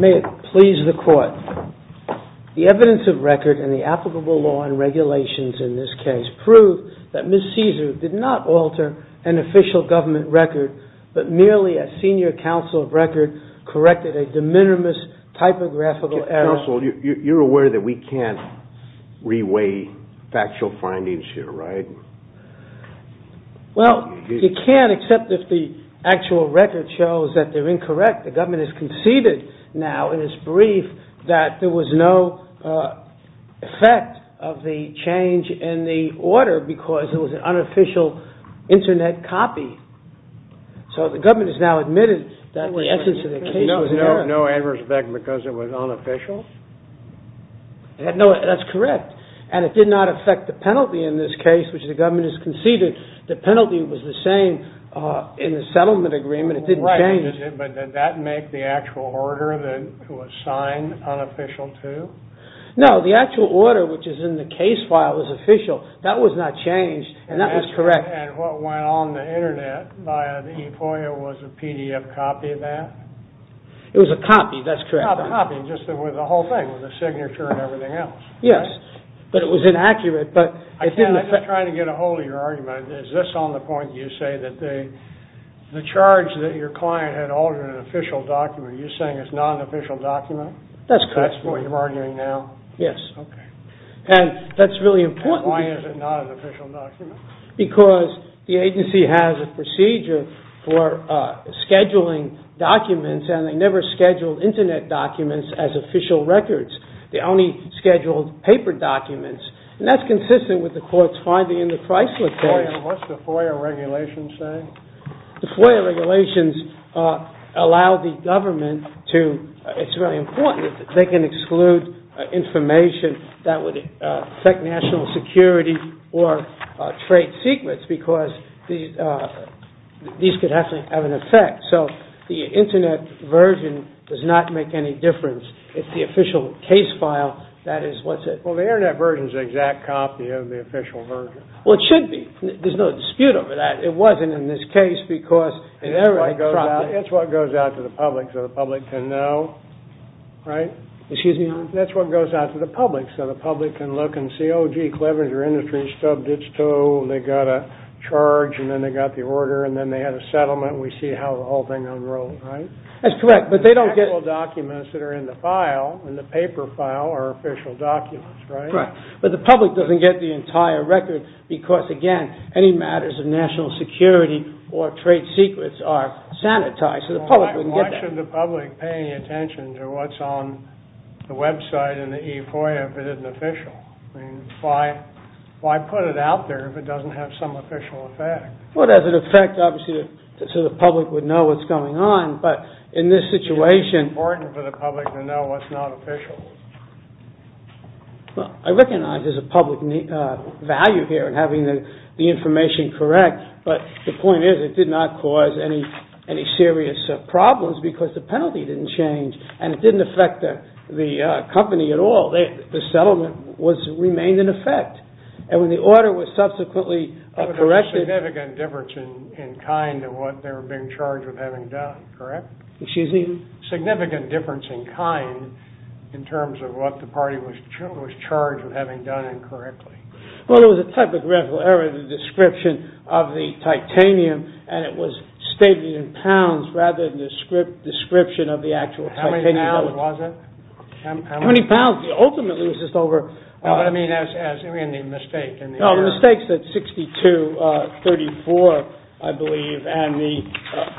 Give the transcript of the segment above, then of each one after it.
May it please the Court, the evidence of record in the applicable law and regulations in this year's council of record corrected a de minimis typographical error. JUSTICE SCALIA You're aware that we can't re-weigh factual findings here, right? COMMERCILLE CAESAR Well, you can't except if the actual record shows that they're incorrect. The government has conceded now in its brief that there was no effect of the change in the order because it was an unofficial internet copy. So the government has now admitted that the essence of the case was an error. JUSTICE SCALIA There was no adverse effect because it was unofficial? COMMERCILLE CAESAR No, that's correct. And it did not affect the penalty in this case, which the government has conceded. The penalty was the same in the settlement agreement. It didn't change. JUSTICE SCALIA Right, but did that make the actual order to assign unofficial to? COMMERCILLE CAESAR No, the actual order, which is in the case file, was official. That was not changed, and that was correct. JUSTICE SCALIA And what went on the internet via the E-FOIA was a PDF copy of that? COMMERCILLE CAESAR It was a copy, that's correct. JUSTICE SCALIA A copy, just with the whole thing, with the signature and everything else. COMMERCILLE CAESAR Yes, but it was inaccurate. JUSTICE SCALIA I'm just trying to get a hold of your argument. Is this on the point that you say that the charge that your client had altered an official document, are you saying it's not an official document? COMMERCILLE CAESAR That's correct. JUSTICE SCALIA That's what you're arguing now? COMMERCILLE CAESAR Yes. JUSTICE SCALIA Okay. COMMERCILLE CAESAR And that's really important. JUSTICE SCALIA And why is it not an official document? COMMERCILLE CAESAR Because the agency has a procedure for scheduling documents, and they never scheduled internet documents as official records. They only scheduled paper documents, and that's consistent with the court's finding in the Chrysler case. JUSTICE SCALIA What's the FOIA regulations say? COMMERCILLE CAESAR The FOIA regulations allow the government to, it's very important, they can exclude information that would affect national security or trade secrets, because these could have an effect. So the internet version does not make any difference. It's the official case file that is what's it. JUSTICE SCALIA Well, the internet version is an exact copy of the official version. COMMERCILLE CAESAR Well, it should be. There's no dispute over that. It wasn't in this case, because in every property. JUSTICE SCALIA That's what goes out to the public so the public can know, right? COMMERCILLE CAESAR Excuse me? JUSTICE SCALIA That's what goes out to the public so the public can look and see, oh, gee, Clevenger Industries stubbed its toe. They got a charge, and then they got the order, and then they had a settlement. We see how the whole thing unrolled, right? COMMERCILLE CAESAR That's correct, but they don't get... JUSTICE SCALIA The actual documents that are in the file, in the paper file, are official documents, right? COMMERCILLE CAESAR Correct. But the public doesn't get the entire record because, again, any matters of national security or trade secrets are sanitized. So the public wouldn't get that. JUSTICE SCALIA Why should the public pay any attention to what's on the website and the e-foil if it isn't official? Why put it out there if it doesn't have some official effect? COMMERCILLE CAESAR Well, it has an effect, obviously, so the public would know what's going on, but in this situation... JUSTICE SCALIA It's important for the public to know what's not official. COMMERCILLE CAESAR I recognize there's a public value here in having the information correct, but the point is it did not cause any serious problems because the penalty didn't change and it didn't affect the company at all. The settlement remained in effect. And when the order was subsequently corrected... JUSTICE SCALIA There was a significant difference in kind in what they were being charged with having done, correct? COMMERCILLE CAESAR Excuse me? JUSTICE SCALIA There was a significant difference in kind in terms of what the party was charged with having done incorrectly. COMMERCILLE CAESAR Well, there was a typographical error in the description of the titanium, and it was stated in pounds rather than the description of the actual titanium. JUSTICE SCALIA How many pounds was it? COMMERCILLE CAESAR How many pounds? Ultimately, it was just over... JUSTICE SCALIA I mean, the mistake in the error. COMMERCILLE CAESAR No, the mistake's at 62.34, I believe, and the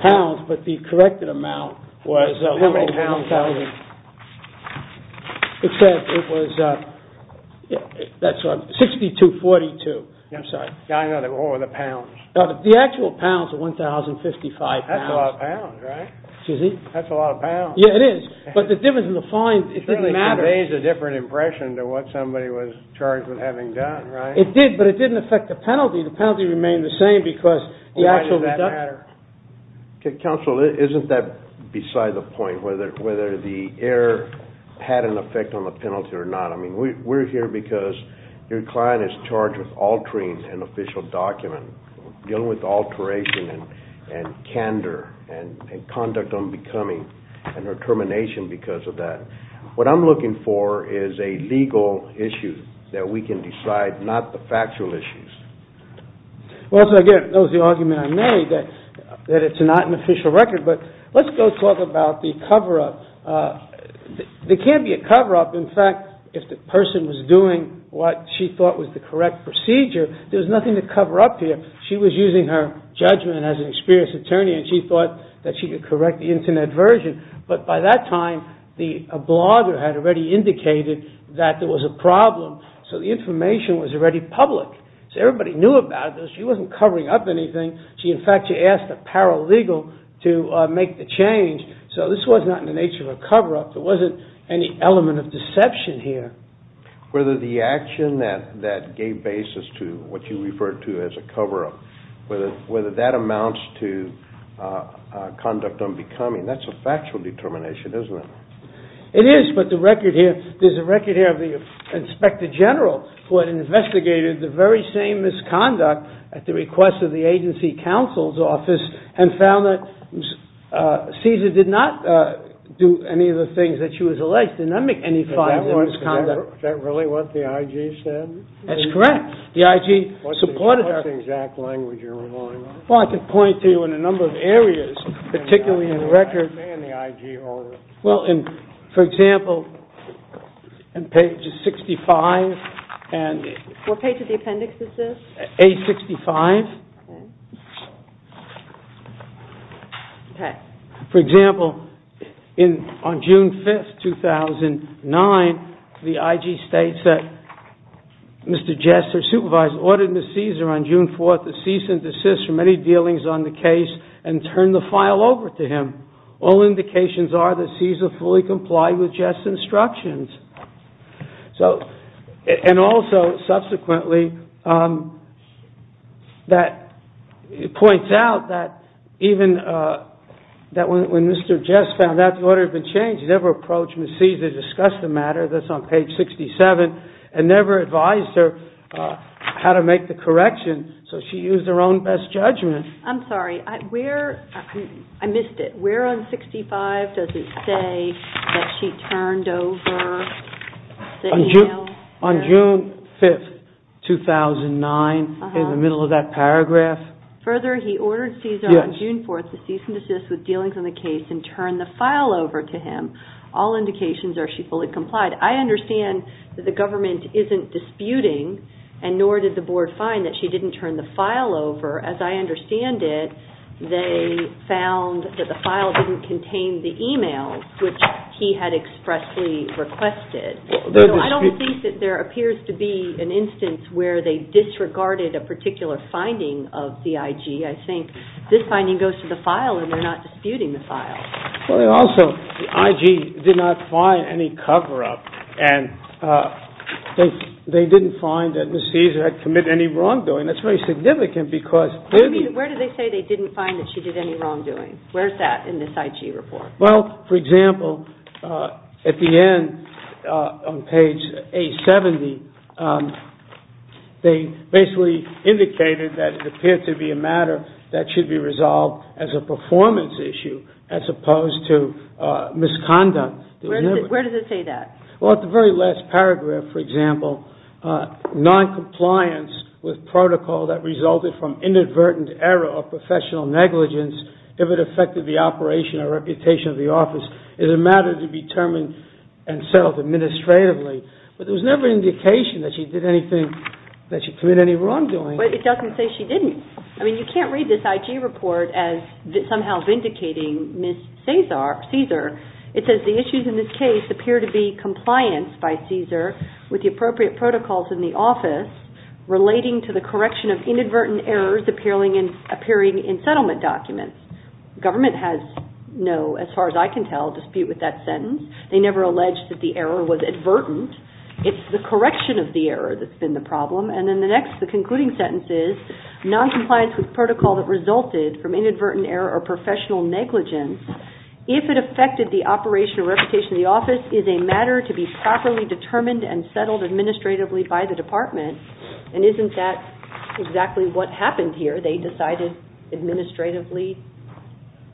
pounds, but the corrected amount was... It said it was, that's right, 62.42. I'm sorry. JUSTICE SCALIA Yeah, I know. What were the pounds? COMMERCILLE CAESAR The actual pounds were 1,055 pounds. JUSTICE SCALIA That's a lot of pounds, right? COMMERCILLE CAESAR Excuse me? JUSTICE SCALIA That's a lot of pounds. COMMERCILLE CAESAR Yeah, it is, but the difference in the fine, it didn't matter. JUSTICE SCALIA It certainly conveys a different impression than what somebody was charged with having done, right? COMMERCILLE CAESAR It did, but it didn't affect the penalty. The penalty remained the same because the actual deduction... JUSTICE SCALIA Why does that matter? COMMERCILLE CAESAR Counsel, isn't that beside the point, whether the error had an effect on the penalty or not? I mean, we're here because your client is charged with altering an official document, dealing with alteration and candor and conduct unbecoming and her termination because of that. What I'm looking for is a legal issue that we can decide, not the factual issues. JUSTICE SCALIA Well, so again, that was the argument I made, that it's not an official record. But let's go talk about the cover-up. There can't be a cover-up. In fact, if the person was doing what she thought was the correct procedure, there's nothing to cover up here. She was using her judgment as an experienced attorney and she thought that she could correct the Internet version. But by that time, a blogger had already indicated that there was a problem, so the information was already public. So everybody knew about it. She wasn't covering up anything. In fact, she asked a paralegal to make the change. So this was not in the nature of a cover-up. There wasn't any element of deception here. JUSTICE KENNEDY Whether the action that gave basis to what you referred to as a cover-up, whether that amounts to conduct unbecoming, that's a factual determination, isn't it? JUSTICE SCALIA It is, but the record here, there's a record here of the Inspector General who had investigated the very same misconduct at the request of the agency counsel's office and found that Cesar did not do any of the things that she was alleged to do, did not make any fines or misconduct. JUSTICE KENNEDY Is that really what the IG said? JUSTICE SCALIA That's correct. The IG supported her. JUSTICE KENNEDY What's the exact language you're relying on? JUSTICE SCALIA Well, I could point to you in a number of areas, particularly in the record. JUSTICE KENNEDY And how would that stay in the IG order? JUSTICE SCALIA Well, for example, on page 65. JUSTICE KENNEDY What page of the appendix is this? JUSTICE SCALIA Page 65. For example, on June 5, 2009, the IG states that Mr. Jester, supervisor, ordered Ms. Cesar on June 4 to cease and desist from any dealings on the case and turn the file over to him. All indications are that Cesar fully complied with Jester's instructions. And also, subsequently, it points out that even when Mr. Jester found out the order had been changed, he never approached Ms. Cesar to discuss the matter, that's on page 67, and never advised her how to make the correction, so she used her own best judgment. JUSTICE O'CONNOR I'm sorry, I missed it. Where on 65 does it say that she turned over the email? JUSTICE SCALIA On June 5, 2009, in the middle of that paragraph. JUSTICE O'CONNOR Further, he ordered Cesar on June 4 to cease and desist with dealings on the case and turn the file over to him. All indications are she fully complied. I understand that the government isn't disputing, and nor did the Board find that she didn't turn the file over, as I understand it, they found that the file didn't contain the email, which he had expressly requested. I don't think that there appears to be an instance where they disregarded a particular finding of the IG. I think this finding goes to the file, and they're not disputing the file. JUSTICE SCALIA Also, the IG did not find any cover-up, and they didn't find that Ms. Cesar had committed any wrongdoing. That's very significant because they didn't find that she did any wrongdoing. Where is that in this IG report? JUSTICE SCALIA Well, for example, at the end on page A70, they basically indicated that it appeared to be a matter that should be resolved as a performance issue as opposed to misconduct. JUSTICE O'CONNOR Where does it say that? JUSTICE SCALIA Well, at the very last paragraph, for example, noncompliance with protocol that resulted from inadvertent error or professional negligence if it affected the operation or reputation of the office is a matter to be determined and settled administratively. But there was never an indication that she did anything, that she committed any wrongdoing. JUSTICE O'CONNOR But it doesn't say she didn't. I mean, you can't read this IG report as somehow vindicating Ms. Cesar. It says the issues in this case appear to be compliance by Cesar with the appropriate protocols in the office relating to the correction of inadvertent errors appearing in settlement documents. Government has no, as far as I can tell, dispute with that sentence. They never alleged that the error was advertent. It's the correction of the error that's been the problem. And then the next, the concluding sentence is noncompliance with protocol that resulted from inadvertent error or professional negligence if it affected the operation or reputation of the office is a matter to be properly determined and settled administratively by the department. And isn't that exactly what happened here? They decided administratively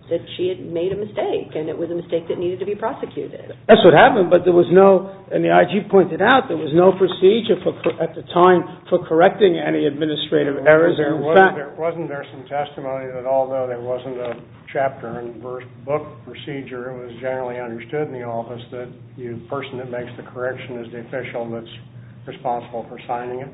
that she had made a mistake, and it was a mistake that needed to be prosecuted. That's what happened, but there was no, and the IG pointed out, there was no procedure at the time for correcting any administrative errors. Wasn't there some testimony that although there wasn't a chapter and book procedure, it was generally understood in the office that the person that makes the correction is the official that's responsible for signing it?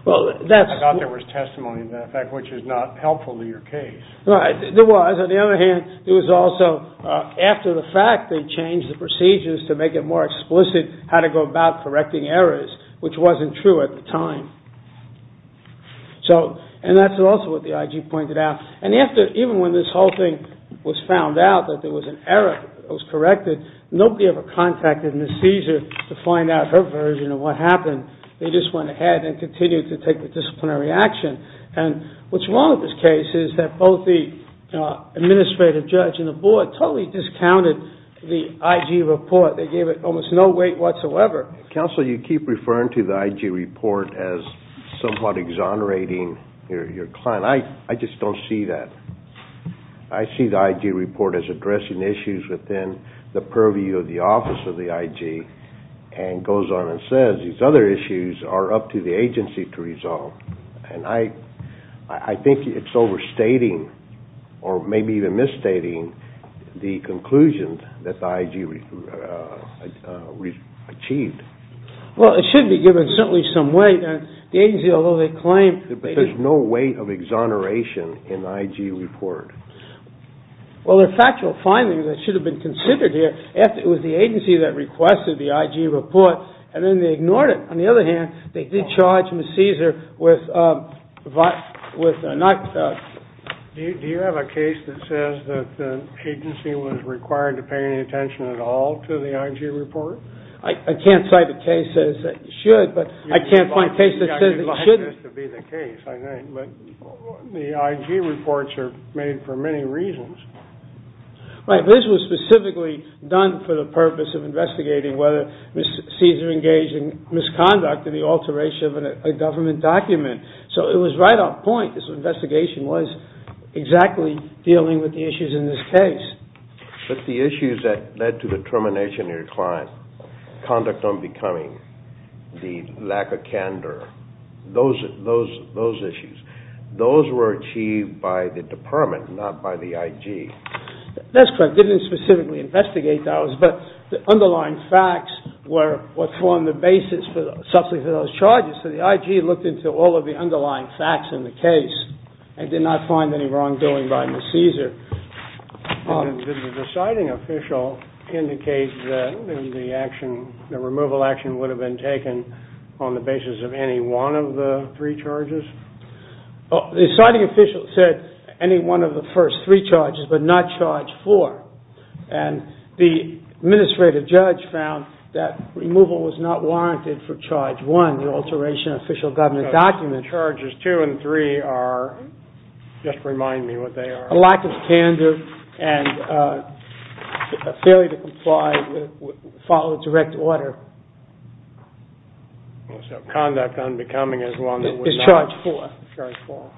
I thought there was testimony to that fact, which is not helpful to your case. Right, there was. On the other hand, there was also, after the fact, they changed the procedures to make it more explicit how to go about correcting errors, which wasn't true at the time. So, and that's also what the IG pointed out. And after, even when this whole thing was found out that there was an error that was corrected, nobody ever contacted Ms. Caesar to find out her version of what happened. They just went ahead and continued to take the disciplinary action. And what's wrong with this case is that both the administrative judge and the board totally discounted the IG report. They gave it almost no weight whatsoever. Counsel, you keep referring to the IG report as somewhat exonerating your client. And I just don't see that. I see the IG report as addressing issues within the purview of the office of the IG and goes on and says these other issues are up to the agency to resolve. And I think it's overstating or maybe even misstating the conclusion that the IG achieved. Well, it should be given certainly some weight. But there's no weight of exoneration in the IG report. Well, there are factual findings that should have been considered here. It was the agency that requested the IG report, and then they ignored it. On the other hand, they did charge Ms. Caesar with not- Do you have a case that says that the agency was required to pay any attention at all to the IG report? I can't cite a case that says it should, but I can't find a case that says it shouldn't. You'd like this to be the case, I think. But the IG reports are made for many reasons. Right, but this was specifically done for the purpose of investigating whether Ms. Caesar engaged in misconduct in the alteration of a government document. So it was right on point. This investigation was exactly dealing with the issues in this case. But the issues that led to the termination of your client, conduct unbecoming, the lack of candor, those issues, those were achieved by the department, not by the IG. That's correct. They didn't specifically investigate those, but the underlying facts were on the basis for those charges. So the IG looked into all of the underlying facts in the case and did not find any wrongdoing by Ms. Caesar. Did the citing official indicate that the removal action would have been taken on the basis of any one of the three charges? The citing official said any one of the first three charges, but not charge four. And the administrative judge found that removal was not warranted for charge one, the alteration of an official government document. So charges two and three are, just remind me what they are. A lack of candor and a failure to comply, follow direct order. So conduct unbecoming is one that was not. Is charge four. Charge four.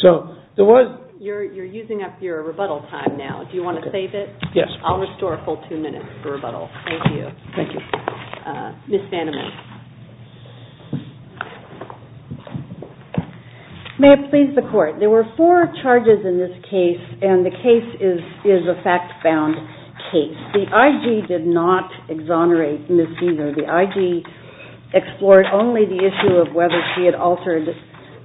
So there was. You're using up your rebuttal time now. Do you want to save it? Yes, please. I'll restore a full two minutes for rebuttal. Thank you. Thank you. Ms. Vandeman. May it please the court. There were four charges in this case, and the case is a fact-bound case. The IG did not exonerate Ms. Caesar. The IG explored only the issue of whether she had altered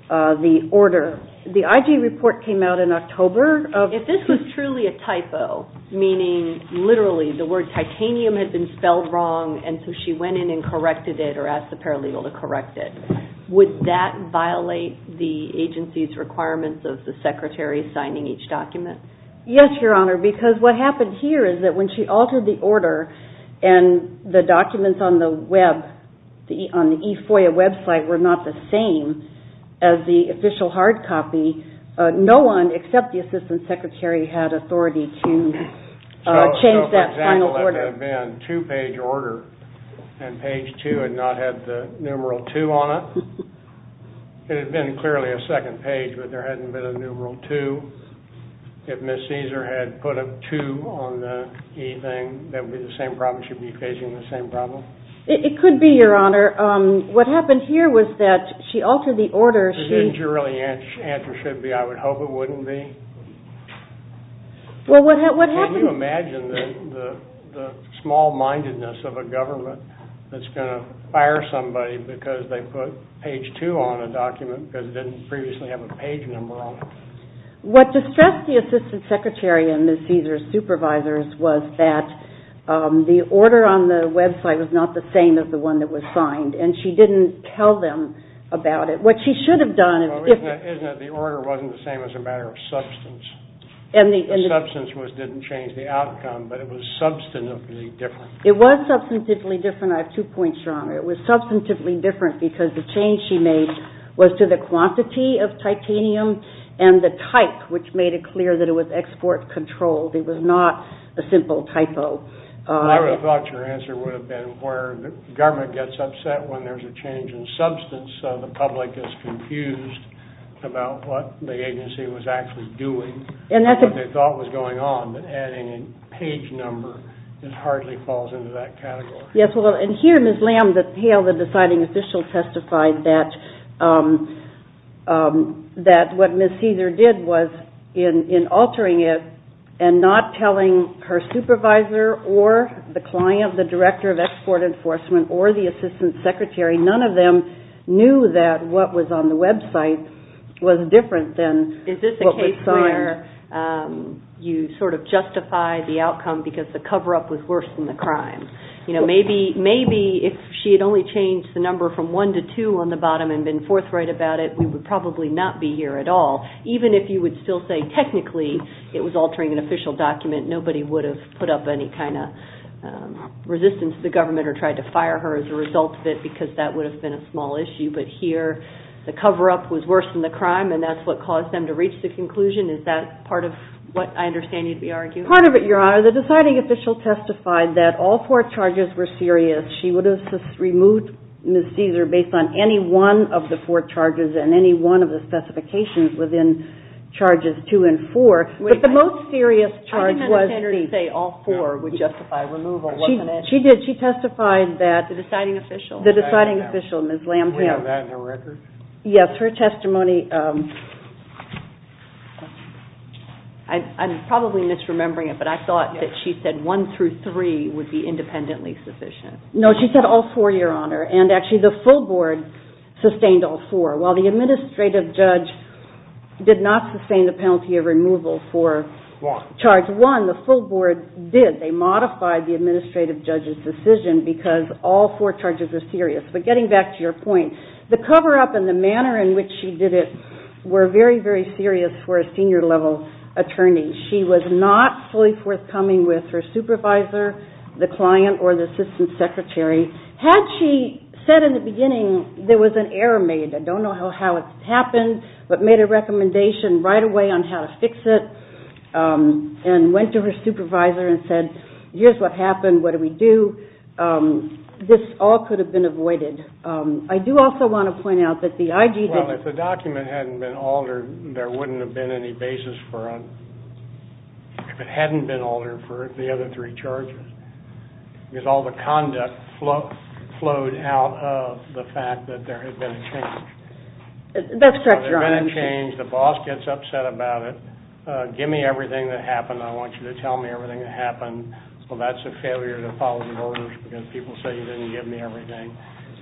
the order. The IG report came out in October. If this was truly a typo, meaning literally the word titanium had been spelled wrong, and so she went in and corrected it or asked the paralegal to correct it, would that violate the agency's requirements of the secretary signing each document? Yes, Your Honor, because what happened here is that when she altered the order and the documents on the web, on the E-FOIA website were not the same as the official hard copy, no one except the assistant secretary had authority to change that final order. It would have been a two-page order, and page two had not had the numeral two on it. It had been clearly a second page, but there hadn't been a numeral two. If Ms. Caesar had put a two on the E thing, that would be the same problem. She would be facing the same problem. It could be, Your Honor. What happened here was that she altered the order. So didn't you really answer, should be, I would hope it wouldn't be? Can you imagine the small-mindedness of a government that's going to fire somebody because they put page two on a document because it didn't previously have a page number on it? What distressed the assistant secretary and Ms. Caesar's supervisors was that the order on the website was not the same as the one that was signed, and she didn't tell them about it. Isn't it the order wasn't the same as a matter of substance? The substance didn't change the outcome, but it was substantively different. It was substantively different. I have two points, Your Honor. It was substantively different because the change she made was to the quantity of titanium and the type, which made it clear that it was export-controlled. It was not a simple typo. I would have thought your answer would have been where the government gets upset when there's a change in substance, so the public is confused about what the agency was actually doing and what they thought was going on, but adding a page number, it hardly falls into that category. Yes, well, and here Ms. Lamb, the deciding official, testified that what Ms. Caesar did was, in altering it and not telling her supervisor or the client, the director of export enforcement, or the assistant secretary, none of them knew that what was on the website was different than what was signed. Is this a case where you sort of justify the outcome because the cover-up was worse than the crime? You know, maybe if she had only changed the number from one to two on the bottom and been forthright about it, we would probably not be here at all. Even if you would still say technically it was altering an official document, nobody would have put up any kind of resistance to the government or tried to fire her as a result of it because that would have been a small issue, but here the cover-up was worse than the crime and that's what caused them to reach the conclusion. Is that part of what I understand you'd be arguing? Part of it, Your Honor. The deciding official testified that all four charges were serious. She would have removed Ms. Caesar based on any one of the four charges and any one of the specifications within charges two and four. But the most serious charge was the... I didn't have the standard to say all four would justify removal, wasn't it? She did. She testified that... The deciding official. The deciding official, Ms. Lamb. Do we have that in the records? Yes, her testimony... I'm probably misremembering it, but I thought that she said one through three would be independently sufficient. No, she said all four, Your Honor, and actually the full board sustained all four. While the administrative judge did not sustain the penalty of removal for charge one, the full board did. They modified the administrative judge's decision because all four charges were serious. But getting back to your point, the cover-up and the manner in which she did it were very, very serious for a senior-level attorney. She was not fully forthcoming with her supervisor, the client, or the assistant secretary. Had she said in the beginning there was an error made, I don't know how it happened, but made a recommendation right away on how to fix it and went to her supervisor and said, here's what happened, what do we do, this all could have been avoided. I do also want to point out that the IG didn't... Well, if the document hadn't been altered, there wouldn't have been any basis for... If it hadn't been altered for the other three charges. Because all the conduct flowed out of the fact that there had been a change. That's correct, Your Honor. There had been a change, the boss gets upset about it, give me everything that happened, I want you to tell me everything that happened. Well, that's a failure to follow the orders because people say you didn't give me everything.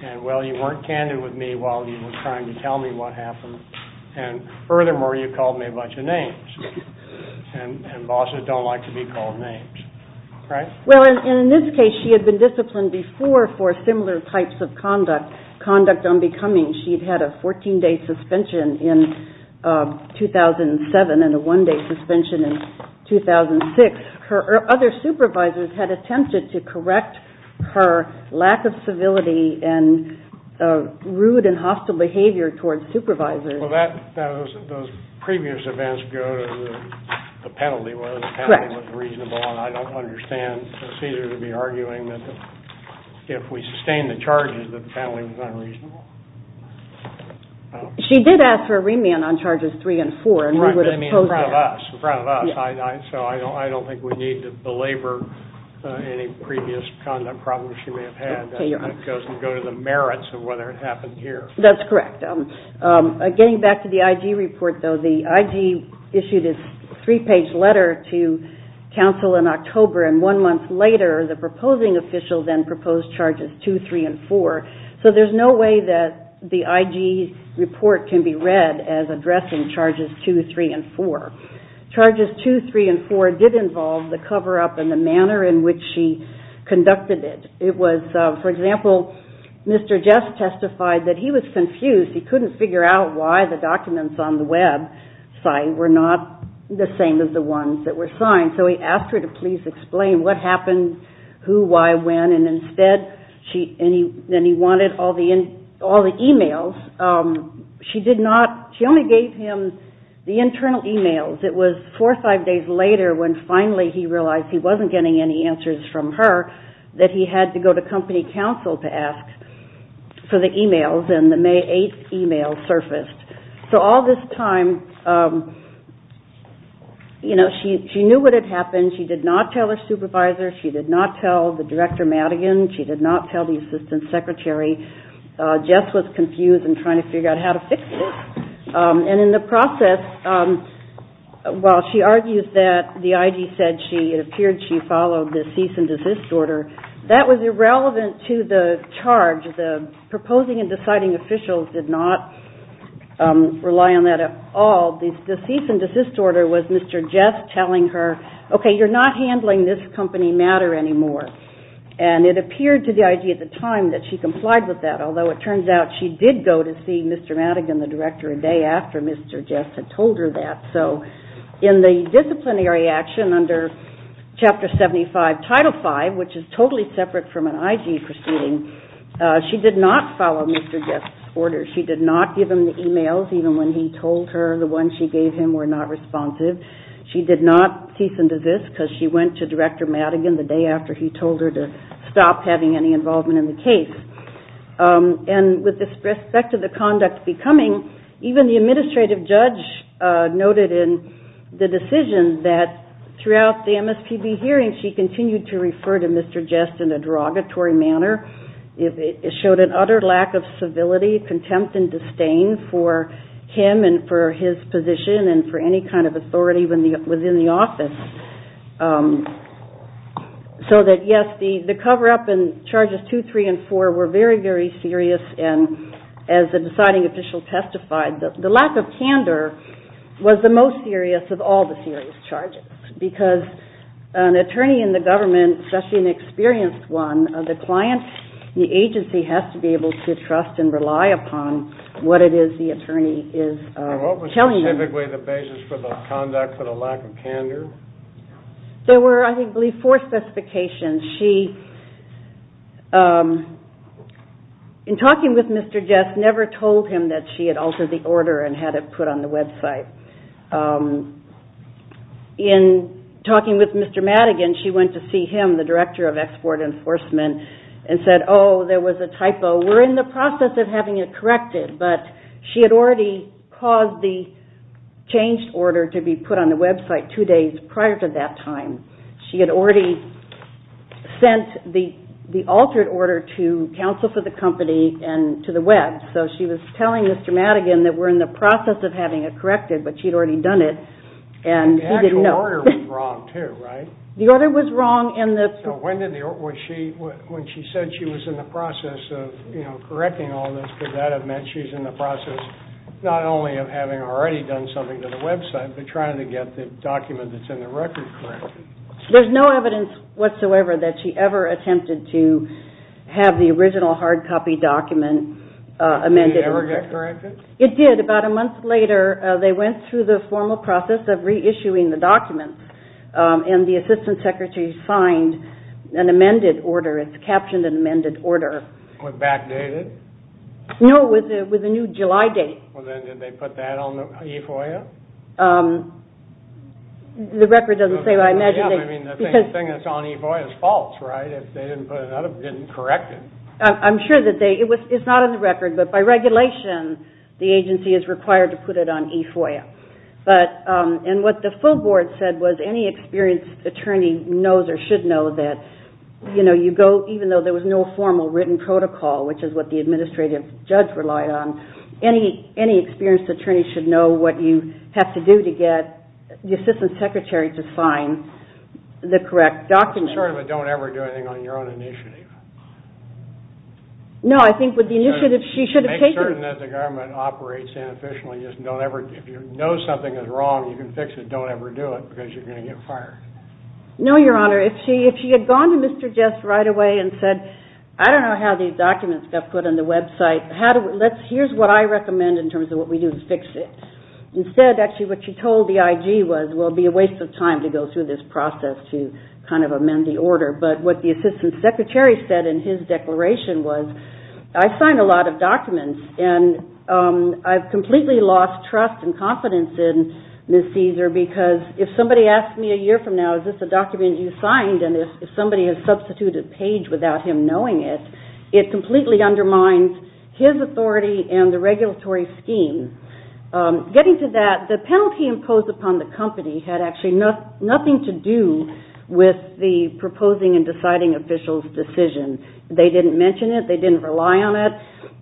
And, well, you weren't candid with me while you were trying to tell me what happened. And, furthermore, you called me a bunch of names. And bosses don't like to be called names, right? Well, and in this case, she had been disciplined before for similar types of conduct, conduct unbecoming. She'd had a 14-day suspension in 2007 and a one-day suspension in 2006. Her other supervisors had attempted to correct her lack of civility and rude and hostile behavior towards supervisors. Well, those previous events go to the penalty, whether the penalty was reasonable. And I don't understand Cesar to be arguing that if we sustain the charges, the penalty was unreasonable. She did ask for a remand on charges three and four. Right, but I mean in front of us, in front of us. So I don't think we need to belabor any previous conduct problems she may have had. That doesn't go to the merits of whether it happened here. That's correct. Getting back to the IG report, though, the IG issued a three-page letter to counsel in October. And one month later, the proposing official then proposed charges two, three, and four. So there's no way that the IG report can be read as addressing charges two, three, and four. Charges two, three, and four did involve the cover-up and the manner in which she conducted it. It was, for example, Mr. Jess testified that he was confused. He couldn't figure out why the documents on the website were not the same as the ones that were signed. So he asked her to please explain what happened, who, why, when. And instead, then he wanted all the e-mails. She only gave him the internal e-mails. It was four or five days later when finally he realized he wasn't getting any answers from her that he had to go to company counsel to ask for the e-mails. And the May 8th e-mail surfaced. So all this time, you know, she knew what had happened. She did not tell her supervisor. She did not tell the Director Madigan. She did not tell the Assistant Secretary. Jess was confused and trying to figure out how to fix this. And in the process, while she argues that the IG said it appeared she followed the cease and desist order, that was irrelevant to the charge. The proposing and deciding officials did not rely on that at all. The cease and desist order was Mr. Jess telling her, okay, you're not handling this company matter anymore. And it appeared to the IG at the time that she complied with that, although it turns out she did go to see Mr. Madigan, the Director, a day after Mr. Jess had told her that. So in the disciplinary action under Chapter 75, Title V, which is totally separate from an IG proceeding, she did not follow Mr. Jess' order. She did not give him the e-mails, even when he told her the ones she gave him were not responsive. She did not cease and desist because she went to Director Madigan the day after he told her to stop having any involvement in the case. And with respect to the conduct becoming, even the administrative judge noted in the decision that throughout the MSPB hearing, she continued to refer to Mr. Jess in a derogatory manner. It showed an utter lack of civility, contempt, and disdain for him and for his position and for any kind of authority within the office. So that, yes, the cover-up in Charges 2, 3, and 4 were very, very serious, and as the deciding official testified, the lack of candor was the most serious of all the serious charges because an attorney in the government, especially an experienced one, the client, the agency, has to be able to trust and rely upon what it is the attorney is telling them. Is that typically the basis for the conduct for the lack of candor? There were, I believe, four specifications. She, in talking with Mr. Jess, never told him that she had altered the order and had it put on the website. In talking with Mr. Madigan, she went to see him, the Director of Export Enforcement, and said, oh, there was a typo, we're in the process of having it corrected, but she had already caused the changed order to be put on the website two days prior to that time. She had already sent the altered order to counsel for the company and to the web, so she was telling Mr. Madigan that we're in the process of having it corrected, but she'd already done it, and he didn't know. The actual order was wrong, too, right? The order was wrong in the... When she said she was in the process of correcting all this, could that have meant she's in the process not only of having already done something to the website, but trying to get the document that's in the record corrected? There's no evidence whatsoever that she ever attempted to have the original hard copy document amended. Did it ever get corrected? It did. About a month later, they went through the formal process of reissuing the documents, and the assistant secretary signed an amended order, captioned an amended order. Was it backdated? No, with a new July date. Well, then did they put that on the E-FOIA? The record doesn't say, but I imagine they... Yeah, I mean, the thing that's on E-FOIA is false, right? If they didn't put it up, didn't correct it. I'm sure that they... It's not on the record, but by regulation, the agency is required to put it on E-FOIA. And what the full board said was any experienced attorney knows or should know that you go, even though there was no formal written protocol, which is what the administrative judge relied on, any experienced attorney should know what you have to do to get the assistant secretary to sign the correct document. Sort of a don't ever do anything on your own initiative. No, I think with the initiative she should have taken. I'm certain that the government operates inefficiently. If you know something is wrong and you can fix it, don't ever do it because you're going to get fired. No, Your Honor, if she had gone to Mr. Jess right away and said, I don't know how these documents got put on the website. Here's what I recommend in terms of what we do to fix it. Instead, actually, what she told the IG was, well, it would be a waste of time to go through this process to kind of amend the order. But what the assistant secretary said in his declaration was, I signed a lot of documents and I've completely lost trust and confidence in Ms. Caesar because if somebody asks me a year from now, is this a document you signed, and if somebody has substituted a page without him knowing it, it completely undermines his authority and the regulatory scheme. Getting to that, the penalty imposed upon the company had actually nothing to do with the proposing and deciding official's decision. They didn't mention it. They didn't rely on it.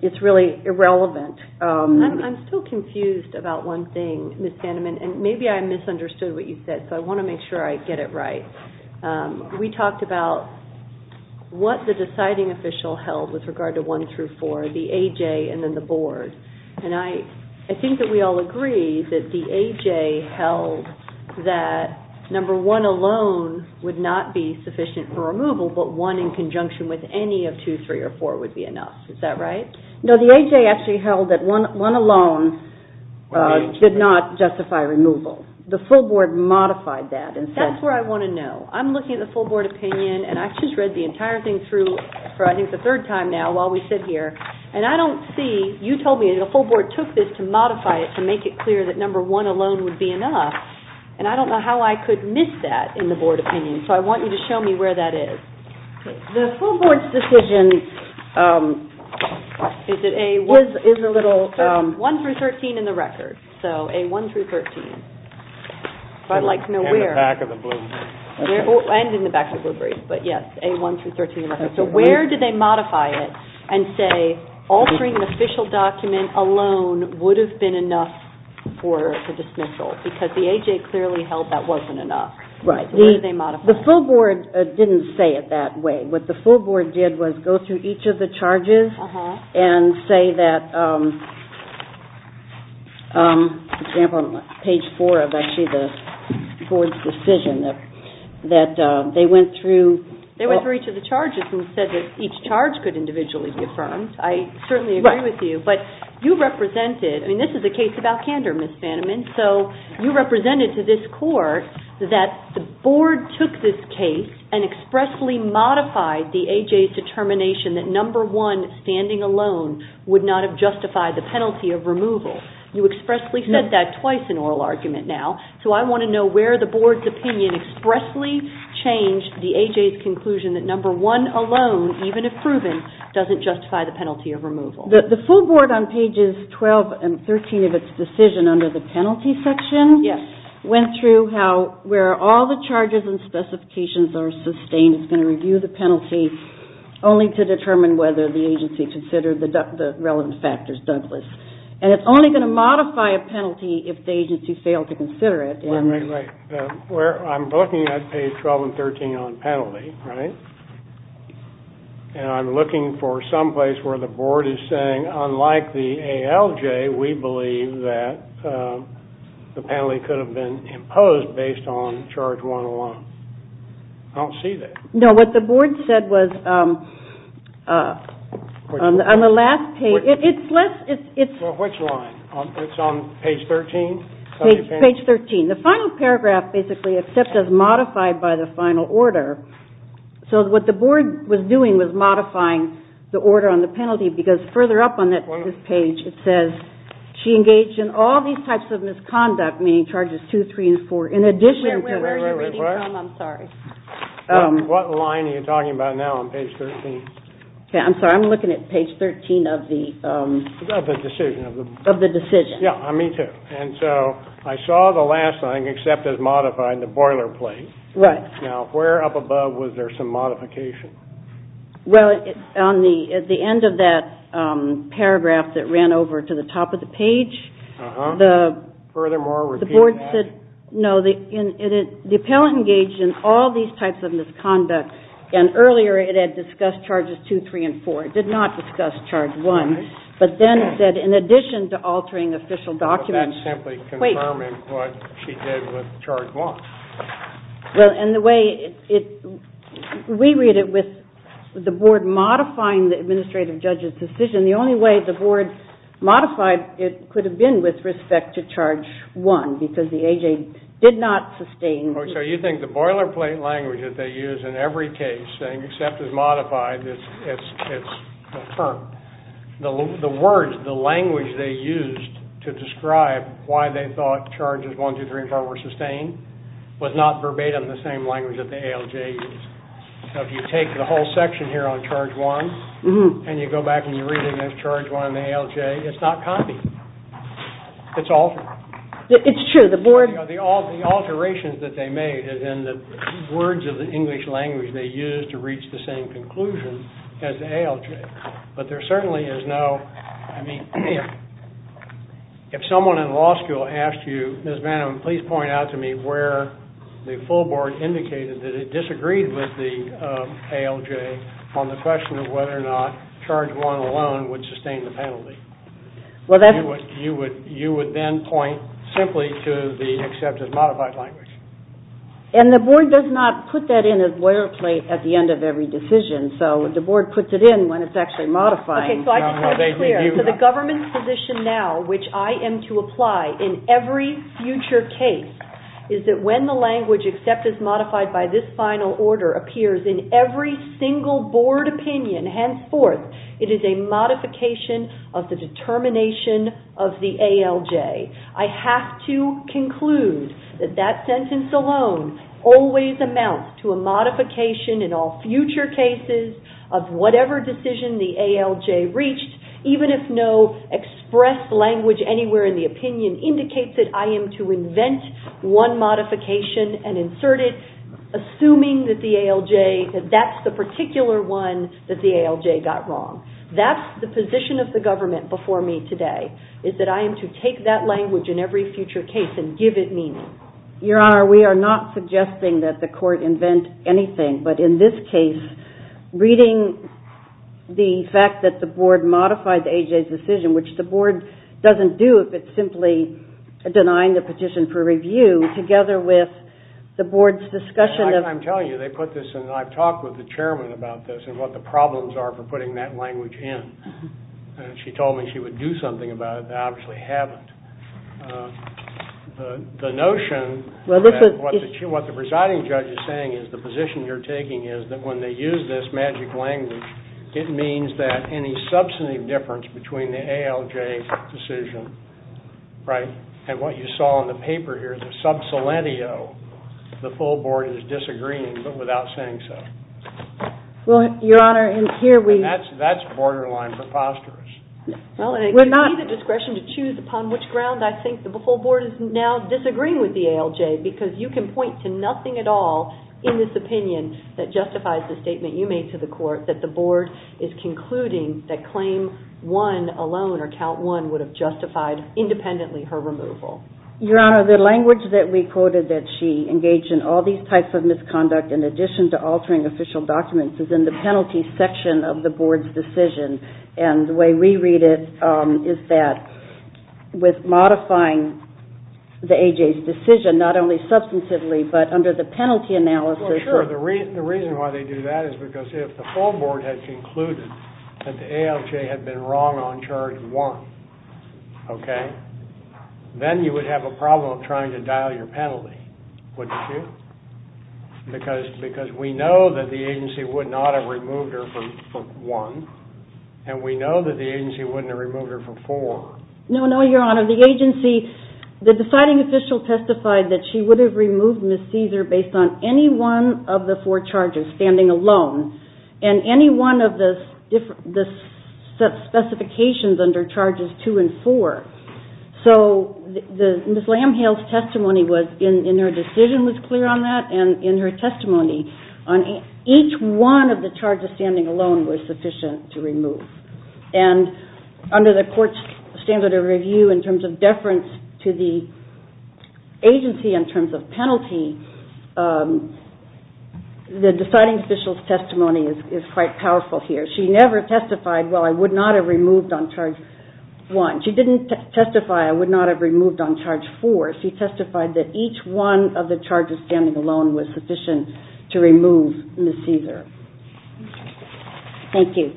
It's really irrelevant. I'm still confused about one thing, Ms. Hanneman, and maybe I misunderstood what you said, so I want to make sure I get it right. We talked about what the deciding official held with regard to one through four, the AJ and then the board, and I think that we all agree that the AJ held that number one alone would not be sufficient for removal, but one in conjunction with any of two, three, or four would be enough. Is that right? No, the AJ actually held that one alone did not justify removal. The full board modified that. That's where I want to know. I'm looking at the full board opinion, and I've just read the entire thing through for, I think, the third time now while we sit here, and I don't see, you told me the full board took this to modify it to make it clear that number one alone would be enough, and I don't know how I could miss that in the board opinion, so I want you to show me where that is. The full board's decision is a little... One through 13 in the record, so A1 through 13. I'd like to know where. And in the back of the blue brief. And in the back of the blue brief, but yes, A1 through 13 in the record. So where did they modify it and say altering the official document alone would have been enough for the dismissal? Because the AJ clearly held that wasn't enough. Right. Where did they modify it? The full board didn't say it that way. What the full board did was go through each of the charges and say that, for example, on page four of actually the board's decision, that they went through... You said that each charge could individually be affirmed. I certainly agree with you, but you represented... I mean, this is a case about candor, Ms. Fanneman, so you represented to this court that the board took this case and expressly modified the AJ's determination that number one standing alone would not have justified the penalty of removal. You expressly said that twice in oral argument now, so I want to know where the board's opinion expressly changed the AJ's conclusion that number one alone, even if proven, doesn't justify the penalty of removal. The full board on pages 12 and 13 of its decision under the penalty section... Yes. ...went through where all the charges and specifications are sustained. It's going to review the penalty, only to determine whether the agency considered the relevant factors doubtless. And it's only going to modify a penalty if the agency failed to consider it. Well, I'm looking at page 12 and 13 on penalty, right? And I'm looking for some place where the board is saying, unlike the ALJ, we believe that the penalty could have been imposed based on charge 101. I don't see that. No, what the board said was on the last page... Well, which line? It's on page 13? Page 13. The final paragraph basically accepts as modified by the final order. So what the board was doing was modifying the order on the penalty because further up on this page it says, she engaged in all these types of misconduct, meaning charges two, three, and four, in addition to... Where are you reading from? I'm sorry. What line are you talking about now on page 13? I'm sorry, I'm looking at page 13 of the... Of the decision. Of the decision. Yeah, me too. And so I saw the last line except as modified, the boilerplate. Right. Now, where up above was there some modification? Well, on the end of that paragraph that ran over to the top of the page... Uh-huh. Furthermore, repeat that. The board said, no, the appellant engaged in all these types of misconduct, and earlier it had discussed charges two, three, and four. It did not discuss charge one. Right. But then it said, in addition to altering official documents... But that's simply confirming what she did with charge one. Well, and the way it... We read it with the board modifying the administrative judge's decision. The only way the board modified it could have been with respect to charge one because the A.J. did not sustain... So you think the boilerplate language that they use in every case, saying except as modified, it's confirmed. The words, the language they used to describe why they thought charges one, two, three, and four were sustained was not verbatim the same language that the A.L.J. used. So if you take the whole section here on charge one and you go back and you read it as charge one in the A.L.J., it's not copied. It's altered. It's true. The board... The alterations that they made is in the words of the English language they used to reach the same conclusion as the A.L.J. But there certainly is no... I mean, if someone in law school asked you, Ms. Manum, please point out to me where the full board indicated that it disagreed with the A.L.J. on the question of whether or not charge one alone would sustain the penalty. You would then point simply to the except as modified language. And the board does not put that in as boilerplate at the end of every decision. So the board puts it in when it's actually modifying. Okay, so I just want to be clear. So the government's position now, which I am to apply in every future case, is that when the language except as modified by this final order appears in every single board opinion henceforth, it is a modification of the determination of the A.L.J. I have to conclude that that sentence alone always amounts to a modification in all future cases of whatever decision the A.L.J. reached, even if no expressed language anywhere in the opinion indicates that I am to invent one modification and insert it, assuming that the A.L.J. that that's the particular one that the A.L.J. got wrong. That's the position of the government before me today, is that I am to take that language in every future case and give it meaning. Your Honor, we are not suggesting that the court invent anything, but in this case, reading the fact that the board modified the A.L.J.'s decision, which the board doesn't do if it's simply denying the petition for review, together with the board's discussion of- I'm telling you, they put this in. I've talked with the chairman about this and what the problems are for putting that language in. She told me she would do something about it. I obviously haven't. The notion that what the presiding judge is saying is the position you're taking is that when they use this magic language, it means that any substantive difference between the A.L.J.'s decision, right, and what you saw in the paper here, the sub silentio, the full board is disagreeing, but without saying so. Well, Your Honor, and here we- And that's borderline preposterous. Well, and it gives me the discretion to choose upon which ground I think the full board is now disagreeing with the A.L.J., because you can point to nothing at all in this opinion that justifies the statement you made to the court, that the board is concluding that claim one alone, or count one, would have justified independently her removal. Your Honor, the language that we quoted, that she engaged in all these types of misconduct, in addition to altering official documents, is in the penalty section of the board's decision, and the way we read it is that with modifying the A.J.'s decision, not only substantively, but under the penalty analysis- Well, sure. The reason why they do that is because if the full board had concluded that the A.L.J. had been wrong on charge one, okay, then you would have a problem trying to dial your penalty, wouldn't you? Because we know that the agency would not have removed her from one, and we know that the agency wouldn't have removed her from four. No, no, Your Honor. The deciding official testified that she would have removed Ms. Caesar based on any one of the four charges, standing alone, and any one of the specifications under charges two and four. So Ms. Lamb-Hale's testimony in her decision was clear on that, and in her testimony on each one of the charges standing alone was sufficient to remove. And under the court's standard of review, in terms of deference to the agency in terms of penalty, the deciding official's testimony is quite powerful here. She never testified, well, I would not have removed on charge one. She didn't testify I would not have removed on charge four. She testified that each one of the charges standing alone was sufficient to remove Ms. Caesar. Thank you.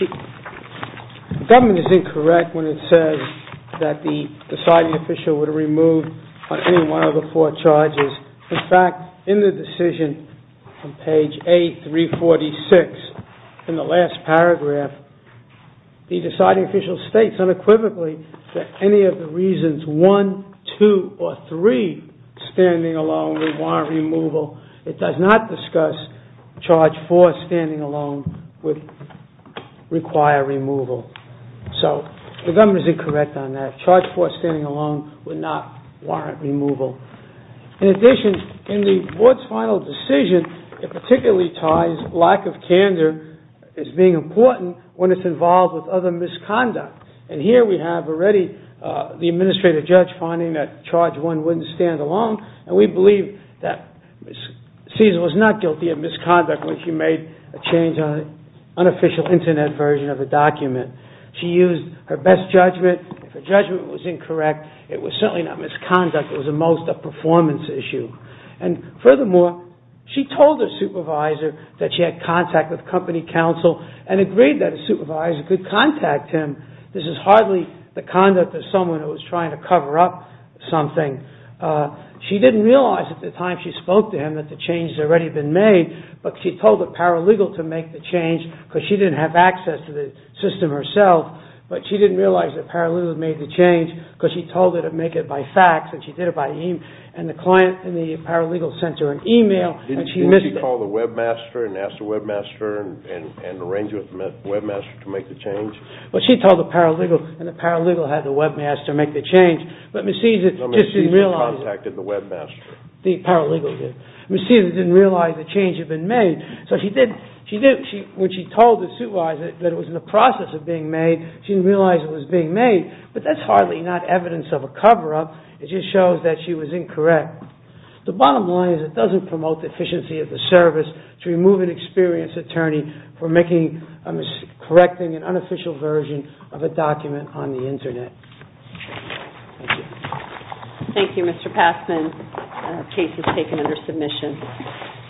The government is incorrect when it says that the deciding official would have removed on any one of the four charges. In fact, in the decision on page A346 in the last paragraph, the deciding official states unequivocally that any of the reasons one, two, or three standing alone require removal. It does not discuss charge four standing alone would require removal. So the government is incorrect on that. Charge four standing alone would not warrant removal. In addition, in the board's final decision, it particularly ties lack of candor as being important when it's involved with other misconduct. And here we have already the administrative judge finding that charge one wouldn't stand alone, and we believe that Ms. Caesar was not guilty of misconduct when she made a change on an unofficial Internet version of a document. She used her best judgment. If her judgment was incorrect, it was certainly not misconduct. It was at most a performance issue. And furthermore, she told her supervisor that she had contact with company counsel and agreed that a supervisor could contact him. This is hardly the conduct of someone who was trying to cover up something. She didn't realize at the time she spoke to him that the change had already been made, but she told the paralegal to make the change because she didn't have access to the system herself. But she didn't realize the paralegal had made the change because she told her to make it by fax, and she did it by e-mail. And the client and the paralegal sent her an e-mail, and she missed it. Didn't she call the webmaster and ask the webmaster and arrange with the webmaster to make the change? Well, she told the paralegal, and the paralegal had the webmaster make the change. But Ms. Caesar just didn't realize. No, Ms. Caesar contacted the webmaster. The paralegal did. Ms. Caesar didn't realize the change had been made. So when she told the supervisor that it was in the process of being made, she didn't realize it was being made. But that's hardly not evidence of a cover-up. It just shows that she was incorrect. The bottom line is it doesn't promote the efficiency of the service to remove an experienced attorney for correcting an unofficial version of a document on the Internet. Thank you. Thank you, Mr. Passman. The case is taken under submission.